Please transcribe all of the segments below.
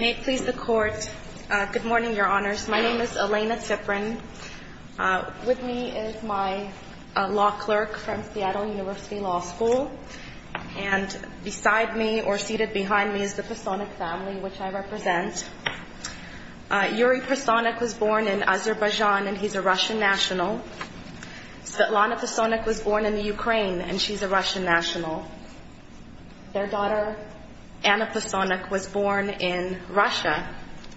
May it please the Court. Good morning, Your Honors. My name is Elena Tiprin. With me is my law clerk from Seattle University Law School. And beside me, or seated behind me, is the Pasonok family, which I represent. Yuri Pasonok was born in Azerbaijan, and he's a Russian national. Svetlana Pasonok was born in the Ukraine, and she's a Russian national. Their daughter, Anna Pasonok, was born in Russia,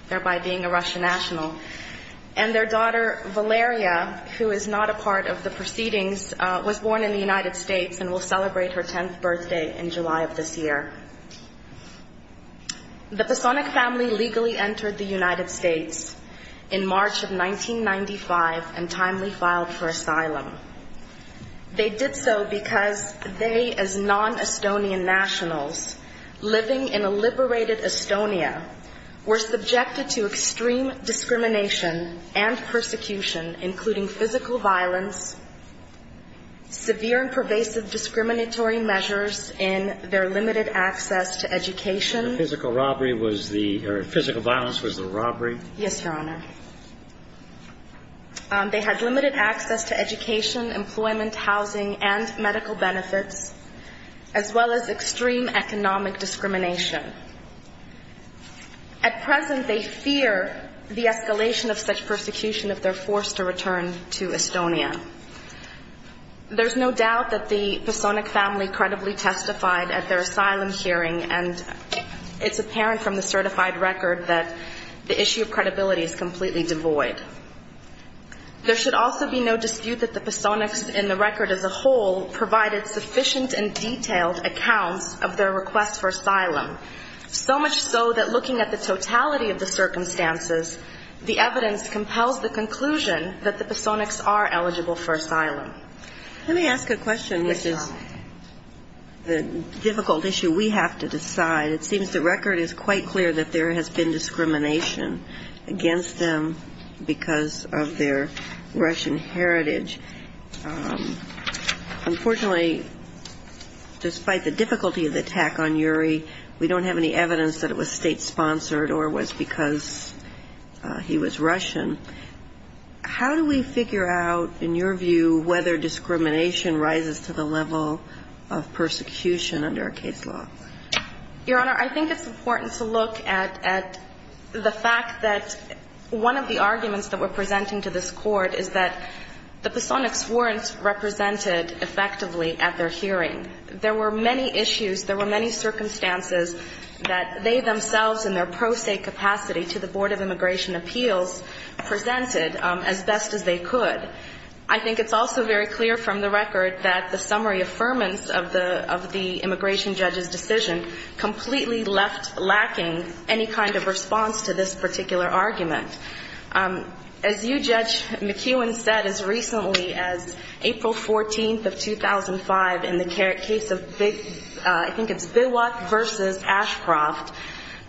thereby being a Russian national. And their daughter, Valeria, who is not a part of the proceedings, was born in the United States and will celebrate her 10th birthday in July of this year. The Pasonok family legally entered the United States in March of 1995 and timely filed for asylum. They did so because they, as non-Estonian nationals living in a liberated Estonia, were subjected to extreme discrimination and persecution, including physical violence, severe and pervasive discriminatory measures in their limited access to education. The physical robbery was the – or physical violence was the robbery? Yes, Your Honor. They had limited access to education, employment, housing, and medical benefits, as well as extreme economic discrimination. At present, they fear the escalation of such persecution if they're forced to return to Estonia. There's no doubt that the Pasonok family credibly testified at their asylum hearing, and it's apparent from the certified record that the issue of credibility is completely devoid. There should also be no dispute that the Pasonoks in the record as a whole provided sufficient and detailed accounts of their request for asylum, so much so that looking at the totality of the circumstances, the evidence compels the conclusion that the Pasonoks are eligible for asylum. Let me ask a question, which is the difficult issue we have to decide. It seems the record is quite clear that there has been discrimination against them because of their Russian heritage. Unfortunately, despite the difficulty of the attack on Yuri, we don't have any evidence that it was state-sponsored or was because he was Russian. How do we figure out, in your view, whether discrimination rises to the level of persecution under our case law? Your Honor, I think it's important to look at the fact that one of the arguments that we're presenting to this Court is that the Pasonoks weren't represented effectively at their hearing. There were many issues, there were many circumstances that they themselves in their pro se capacity to the Board of Immigration Appeals presented as best as they could. I think it's also very clear from the record that the summary affirmance of the immigration judge's decision completely left lacking any kind of response to this particular argument. As you, Judge McKeown, said as recently as April 14th of 2005 in the case of I think it's Biwak v. Ashcroft,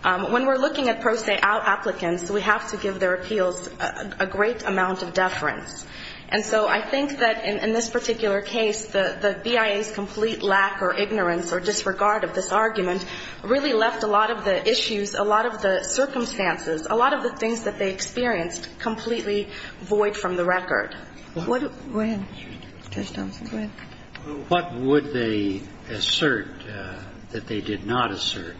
when we're looking at pro se applicants, we have to give their appeals a great amount of deference. And so I think that in this particular case, the BIA's complete lack or ignorance or disregard of this argument really left a lot of the issues, a lot of the circumstances, a lot of the things that they experienced completely void from the record. Go ahead, Judge Thompson, go ahead. What would they assert that they did not assert?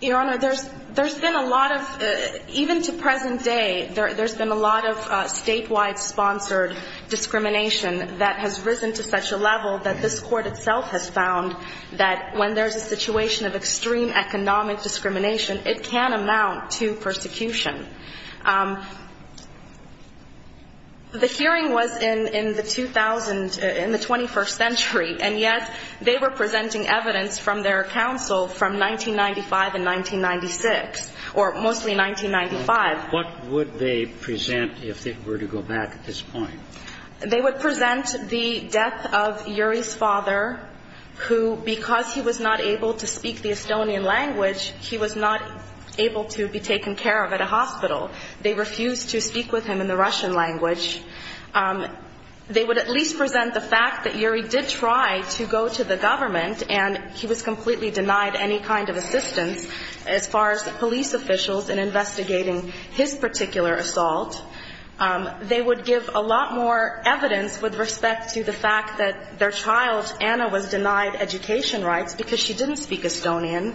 Your Honor, there's been a lot of, even to present day, there's been a lot of statewide sponsored discrimination that has risen to such a level that this Court itself has found that when there's a situation of extreme economic discrimination, it can amount to persecution. The hearing was in the 2000, in the 21st century, and yet they were presenting evidence from their counsel from 1995 and 1996, or mostly 1995. What would they present if they were to go back at this point? They would present the death of Yuri's father, who because he was not able to speak the Estonian language, he was not able to be taken care of at a hospital. They refused to speak with him in the Russian language. They would at least present the fact that Yuri did try to go to the government, and he was completely denied any kind of assistance as far as police officials in investigating his particular assault. They would give a lot more evidence with respect to the fact that their child, Anna, was denied education rights because she didn't speak Estonian.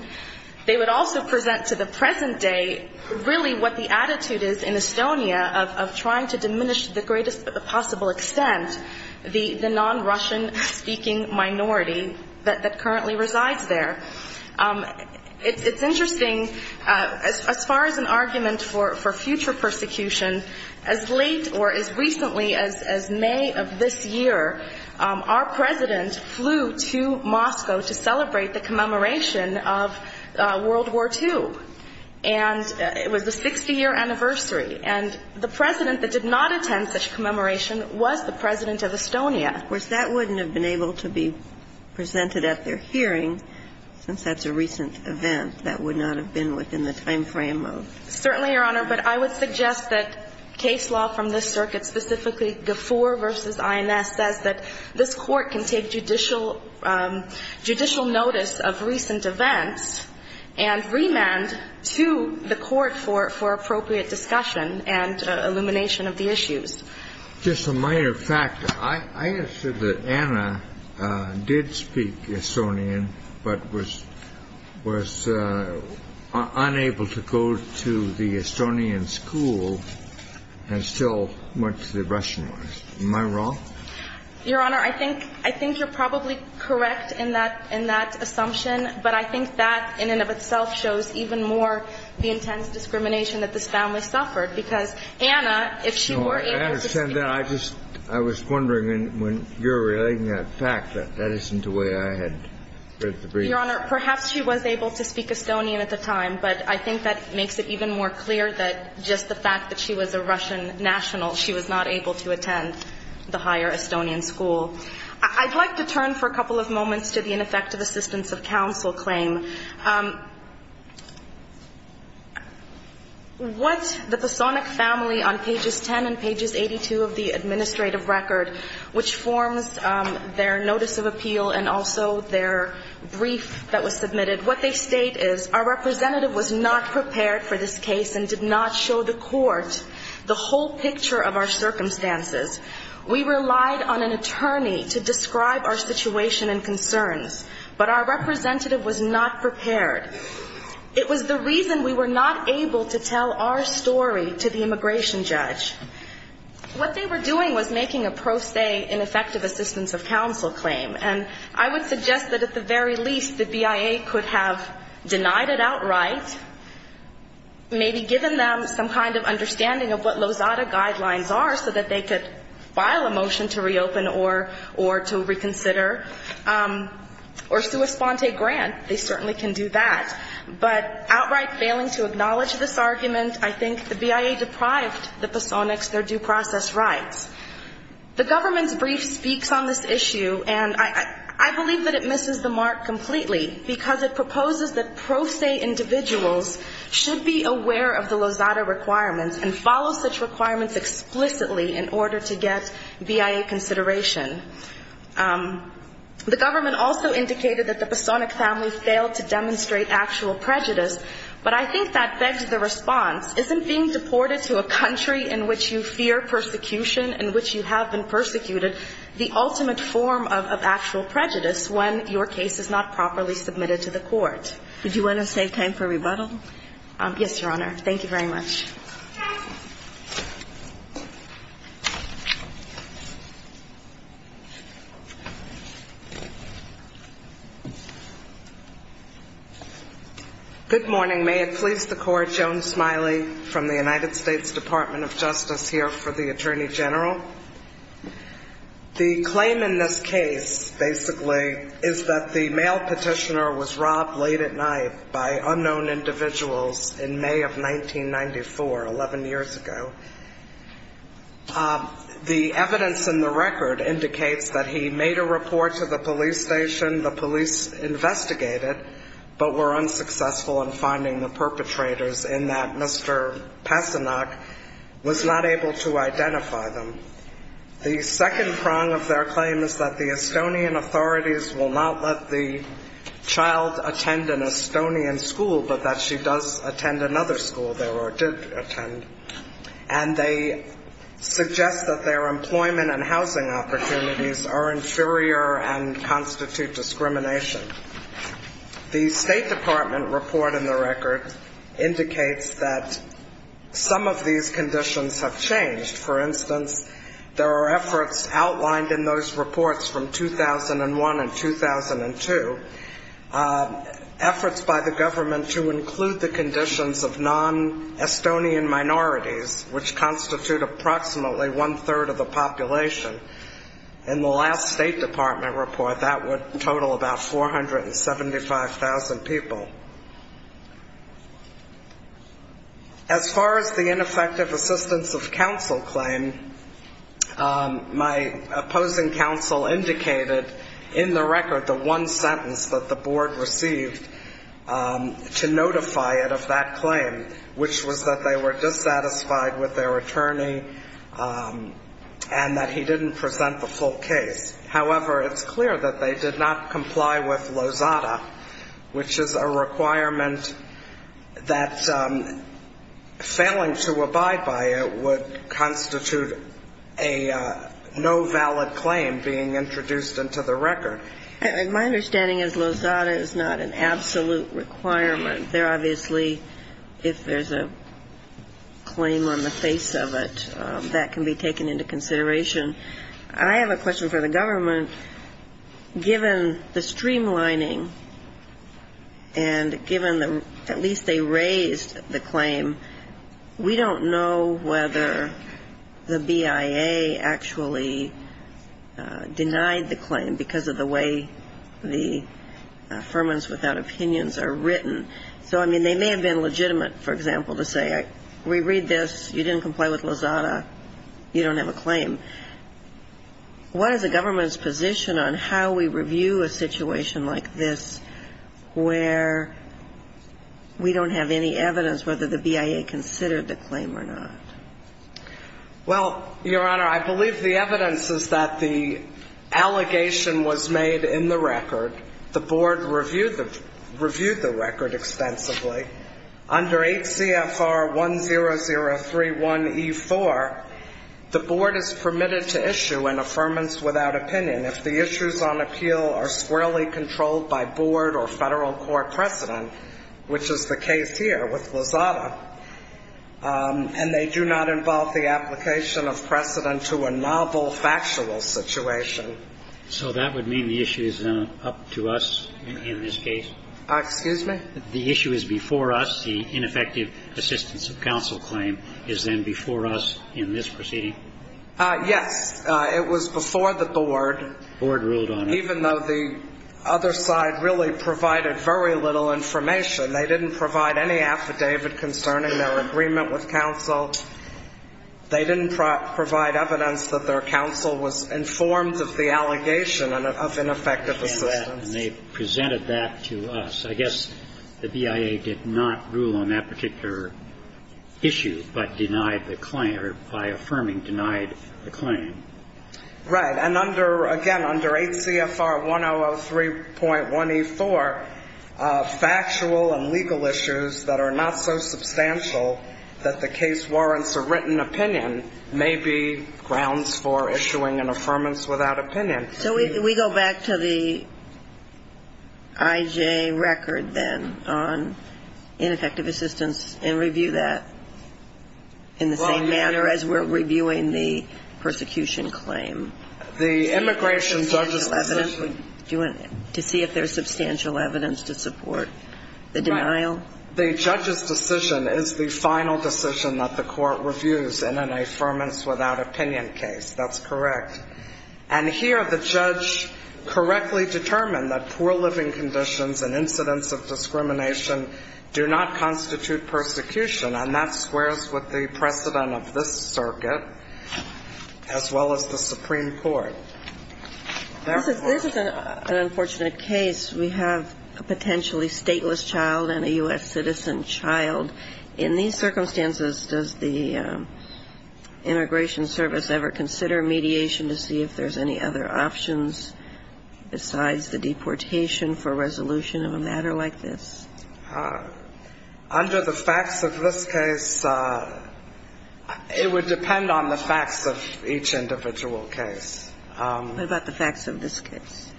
They would also present to the present day really what the attitude is in Estonia of trying to diminish to the greatest possible extent the non-Russian speaking minority that currently resides there. It's interesting, as far as an argument for future persecution, as late or as recently as May of this year, our President flew to Moscow to celebrate the commemoration of World War II. And it was a 60-year anniversary. And the President that did not attend such a commemoration was the President of Estonia. Of course, that wouldn't have been able to be presented at their hearing, since that's a recent event. That would not have been within the timeframe of the hearing. Yes, just a minor factor. I understand that Anna did speak Estonian, but was unable to go to the Estonian school and still went to the Russian one. Am I wrong? No. Your Honor, I think you're probably correct in that assumption, but I think that in and of itself shows even more the intense discrimination that this family suffered. Because Anna, if she were able to speak... No, I understand that. I was wondering, when you're relating that fact, that that isn't the way I had read the brief. Your Honor, perhaps she was able to speak Estonian at the time, but I think that makes it even more clear that just the fact that she was a Russian national, she was not able to attend the higher Estonian school. I'd like to turn for a couple of moments to the ineffective assistance of counsel claim. What the Posonic family on pages 10 and pages 82 of the administrative record, which forms their notice of appeal and also their brief that was submitted, what they state is, our representative was not prepared for this case and did not show the court the whole picture of our circumstances. We relied on an attorney to describe our situation and concerns, but our representative was not prepared. It was the reason we were not able to tell our story to the immigration judge. What they were doing was making a pro se ineffective assistance of counsel claim, and I would suggest that at the very least the BIA could have denied it outright, maybe given them some kind of understanding of what Lozada guidelines are so that they could file a motion to reopen or to reconsider. Or sua sponte grant, they certainly can do that. But outright failing to acknowledge this argument, I think the BIA deprived the Posonics their due process rights. The government's brief speaks on this issue, and I believe that it misses the mark completely, because it proposes that pro se individuals should be aware of the Lozada requirements and follow such requirements explicitly in order to get BIA consideration. The government also indicated that the Posonic family failed to demonstrate actual prejudice, but I think that begs the response. Isn't being deported to a country in which you fear persecution, in which you have been persecuted, the ultimate form of actual prejudice when your case is not properly submitted to the court? Would you want to save time for rebuttal? Yes, Your Honor. Thank you very much. Thank you. Good morning. May it please the Court, Joan Smiley from the United States Department of Justice here for the Attorney General. The claim in this case, basically, is that the male petitioner was robbed late at night by unknown individuals in May of 1994, 11 years ago. The evidence in the record indicates that he made a report to the police station, the police investigated, but were unsuccessful in finding the perpetrators in that Mr. Posonic was not able to identify them. The second prong of their claim is that the Estonian authorities will not let the child attend an Estonian school, but that she does attend another school there, or did attend, and they suggest that their employment and housing opportunities are inferior and constitute discrimination. The State Department report in the record indicates that some of these conditions have changed. For instance, there are efforts outlined in those reports from 2001 and 2002, efforts by the government to include the conditions of non-Estonian minorities, which constitute approximately one-third of the population. In the last State Department report, that would total about 475,000 people. As far as the ineffective assistance of counsel claim, my opposing counsel indicated in the record the one sentence that the Board received to notify it of that claim, which was that they were dissatisfied with their attorney and that he didn't present the full case. However, it's clear that they did not comply with Lozada, which is a requirement that failing to abide by it would constitute a no-valid claim being introduced into the record. My understanding is Lozada is not an absolute requirement. There obviously, if there's a claim on the face of it, that can be taken into consideration. I have a question for the government. Given the streamlining and given the at least they raised the claim, we don't know whether the BIA actually denied the claim because of the way the Affirmatives Without Opinions are written. So, I mean, they may have been legitimate, for example, to say we read this, you didn't comply with Lozada, you don't have a claim. What is the government's position on how we review a situation like this where we don't have any evidence whether the BIA considered the claim or not? Well, Your Honor, I believe the evidence is that the allegation was made in the record. The Board reviewed the record extensively. Under 8 CFR 10031E4, the Board is permitted to issue an Affirmatives Without Opinion if the issues on appeal are squarely controlled by Board or Federal court precedent, which is the case here with Lozada, and they do not involve the application of precedent to a novel factual situation. So that would mean the issue is up to us in this case? Excuse me? The issue is before us. The ineffective assistance of counsel claim is then before us in this proceeding? Yes. It was before the Board. Even though the other side really provided very little information. They didn't provide any affidavit concerning their agreement with counsel. They didn't provide evidence that their counsel was informed of the allegation of ineffective assistance. And they presented that to us. I guess the BIA did not rule on that particular issue, but denied the claim, or by affirming, denied the claim. Right. And under, again, under 8 CFR 1003.1E4, factual and legal issues that are not so substantial that the case warrants a written opinion may be grounds for issuing an Affirmatives Without Opinion. So we go back to the IJ record, then, on ineffective assistance and review that in the same manner as we're reviewing the persecution claim? The immigration judge's decision. Do you want to see if there's substantial evidence to support the denial? The judge's decision is the final decision that the court reviews in an Affirmatives Without Opinion case. That's correct. And here the judge correctly determined that poor living conditions and incidents of discrimination do not constitute persecution. And that squares with the precedent of this circuit, as well as the Supreme Court. Therefore. This is an unfortunate case. We have a potentially stateless child and a U.S. citizen child. In these circumstances, does the Immigration Service ever consider mediation to see if there's any other options besides the deportation for resolution of a matter like this? In this case, it would depend on the facts of each individual case. What about the facts of this case?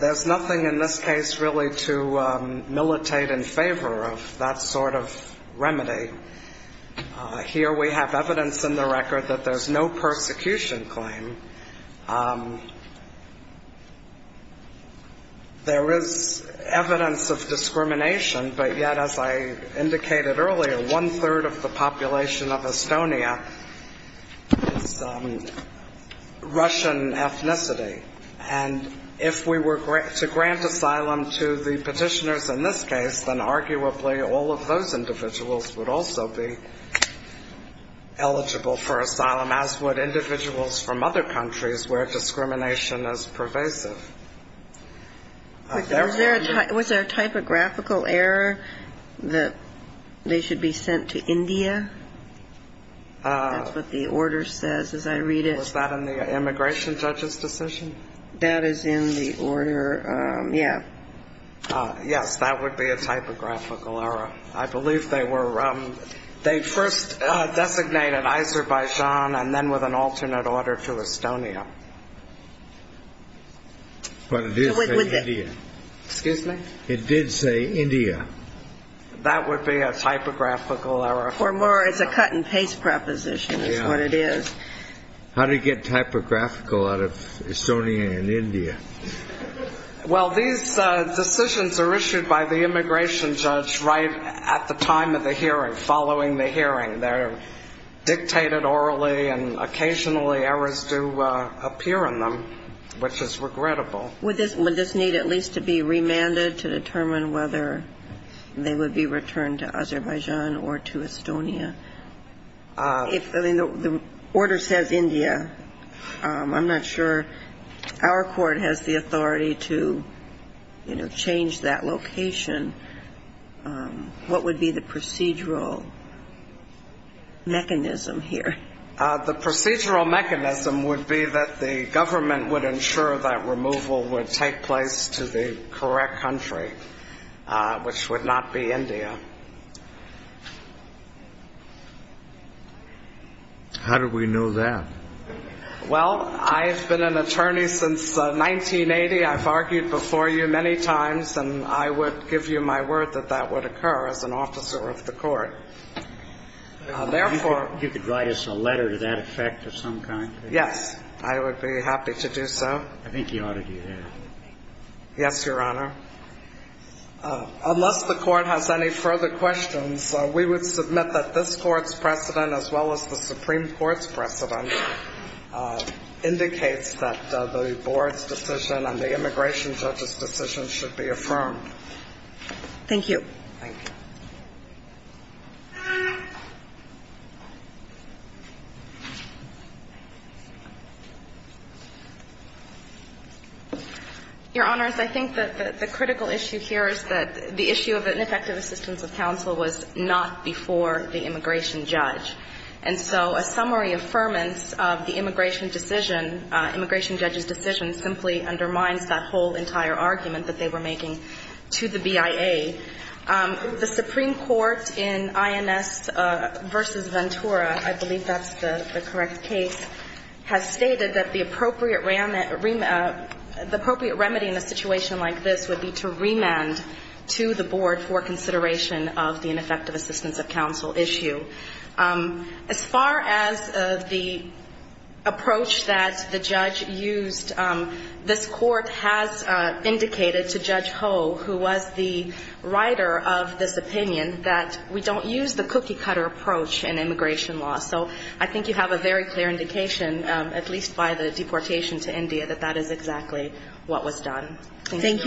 There's nothing in this case really to militate in favor of that sort of remedy. Here we have evidence in the record that there's no persecution claim. There is evidence of discrimination, but yet, as I indicated earlier, one-third of the population of Estonia is Russian ethnicity. And if we were to grant asylum to the petitioners in this case, then arguably all of those individuals would also be eligible for asylum, as would individuals from other countries. Where discrimination is pervasive. Was there a typographical error that they should be sent to India? That's what the order says, as I read it. Was that in the immigration judge's decision? That is in the order, yeah. Yes, that would be a typographical error. I believe they first designated Azerbaijan and then with an alternate order to Estonia. But it did say India. Excuse me? It did say India. That would be a typographical error. It's a cut-and-paste proposition is what it is. How did it get typographical out of Estonia and India? Well, these decisions are issued by the immigration judge right at the time of the hearing, following the hearing. They're dictated orally, and occasionally errors do appear in them, which is regrettable. Would this need at least to be remanded to determine whether they would be returned to Azerbaijan or to Estonia? If the order says India, I'm not sure our court has the authority to, you know, change that location. What would be the procedural mechanism here? The procedural mechanism would be that the government would ensure that removal would take place to the correct country, which would not be India. How do we know that? Well, I have been an attorney since 1980. I've argued before you many times, and I would give you my word that that would occur as an officer of the court. You could write us a letter to that effect of some kind? Yes, I would be happy to do so. I think you ought to do that. Yes, Your Honor. Unless the court has any further questions, we would submit that this Court's precedent, as well as the Supreme Court's precedent, indicates that the board's decision and the immigration judge's decision should be affirmed. Thank you. Your Honors, I think that the critical issue here is that the issue of ineffective assistance of counsel was not before the immigration judge. And so a summary affirmance of the immigration decision, immigration judge's decision, simply undermines that whole entire argument that they were making to the BIA. The Supreme Court in INS v. Ventura, I believe that's the correct case, has stated that the appropriate remedy in a situation like this would be to remand to the board for consideration of the ineffective assistance of counsel issue. As far as the approach that the judge used, this Court has indicated to Judge Ho, who was the representative writer of this opinion, that we don't use the cookie-cutter approach in immigration law. So I think you have a very clear indication, at least by the deportation to India, that that is exactly what was done. Thank you.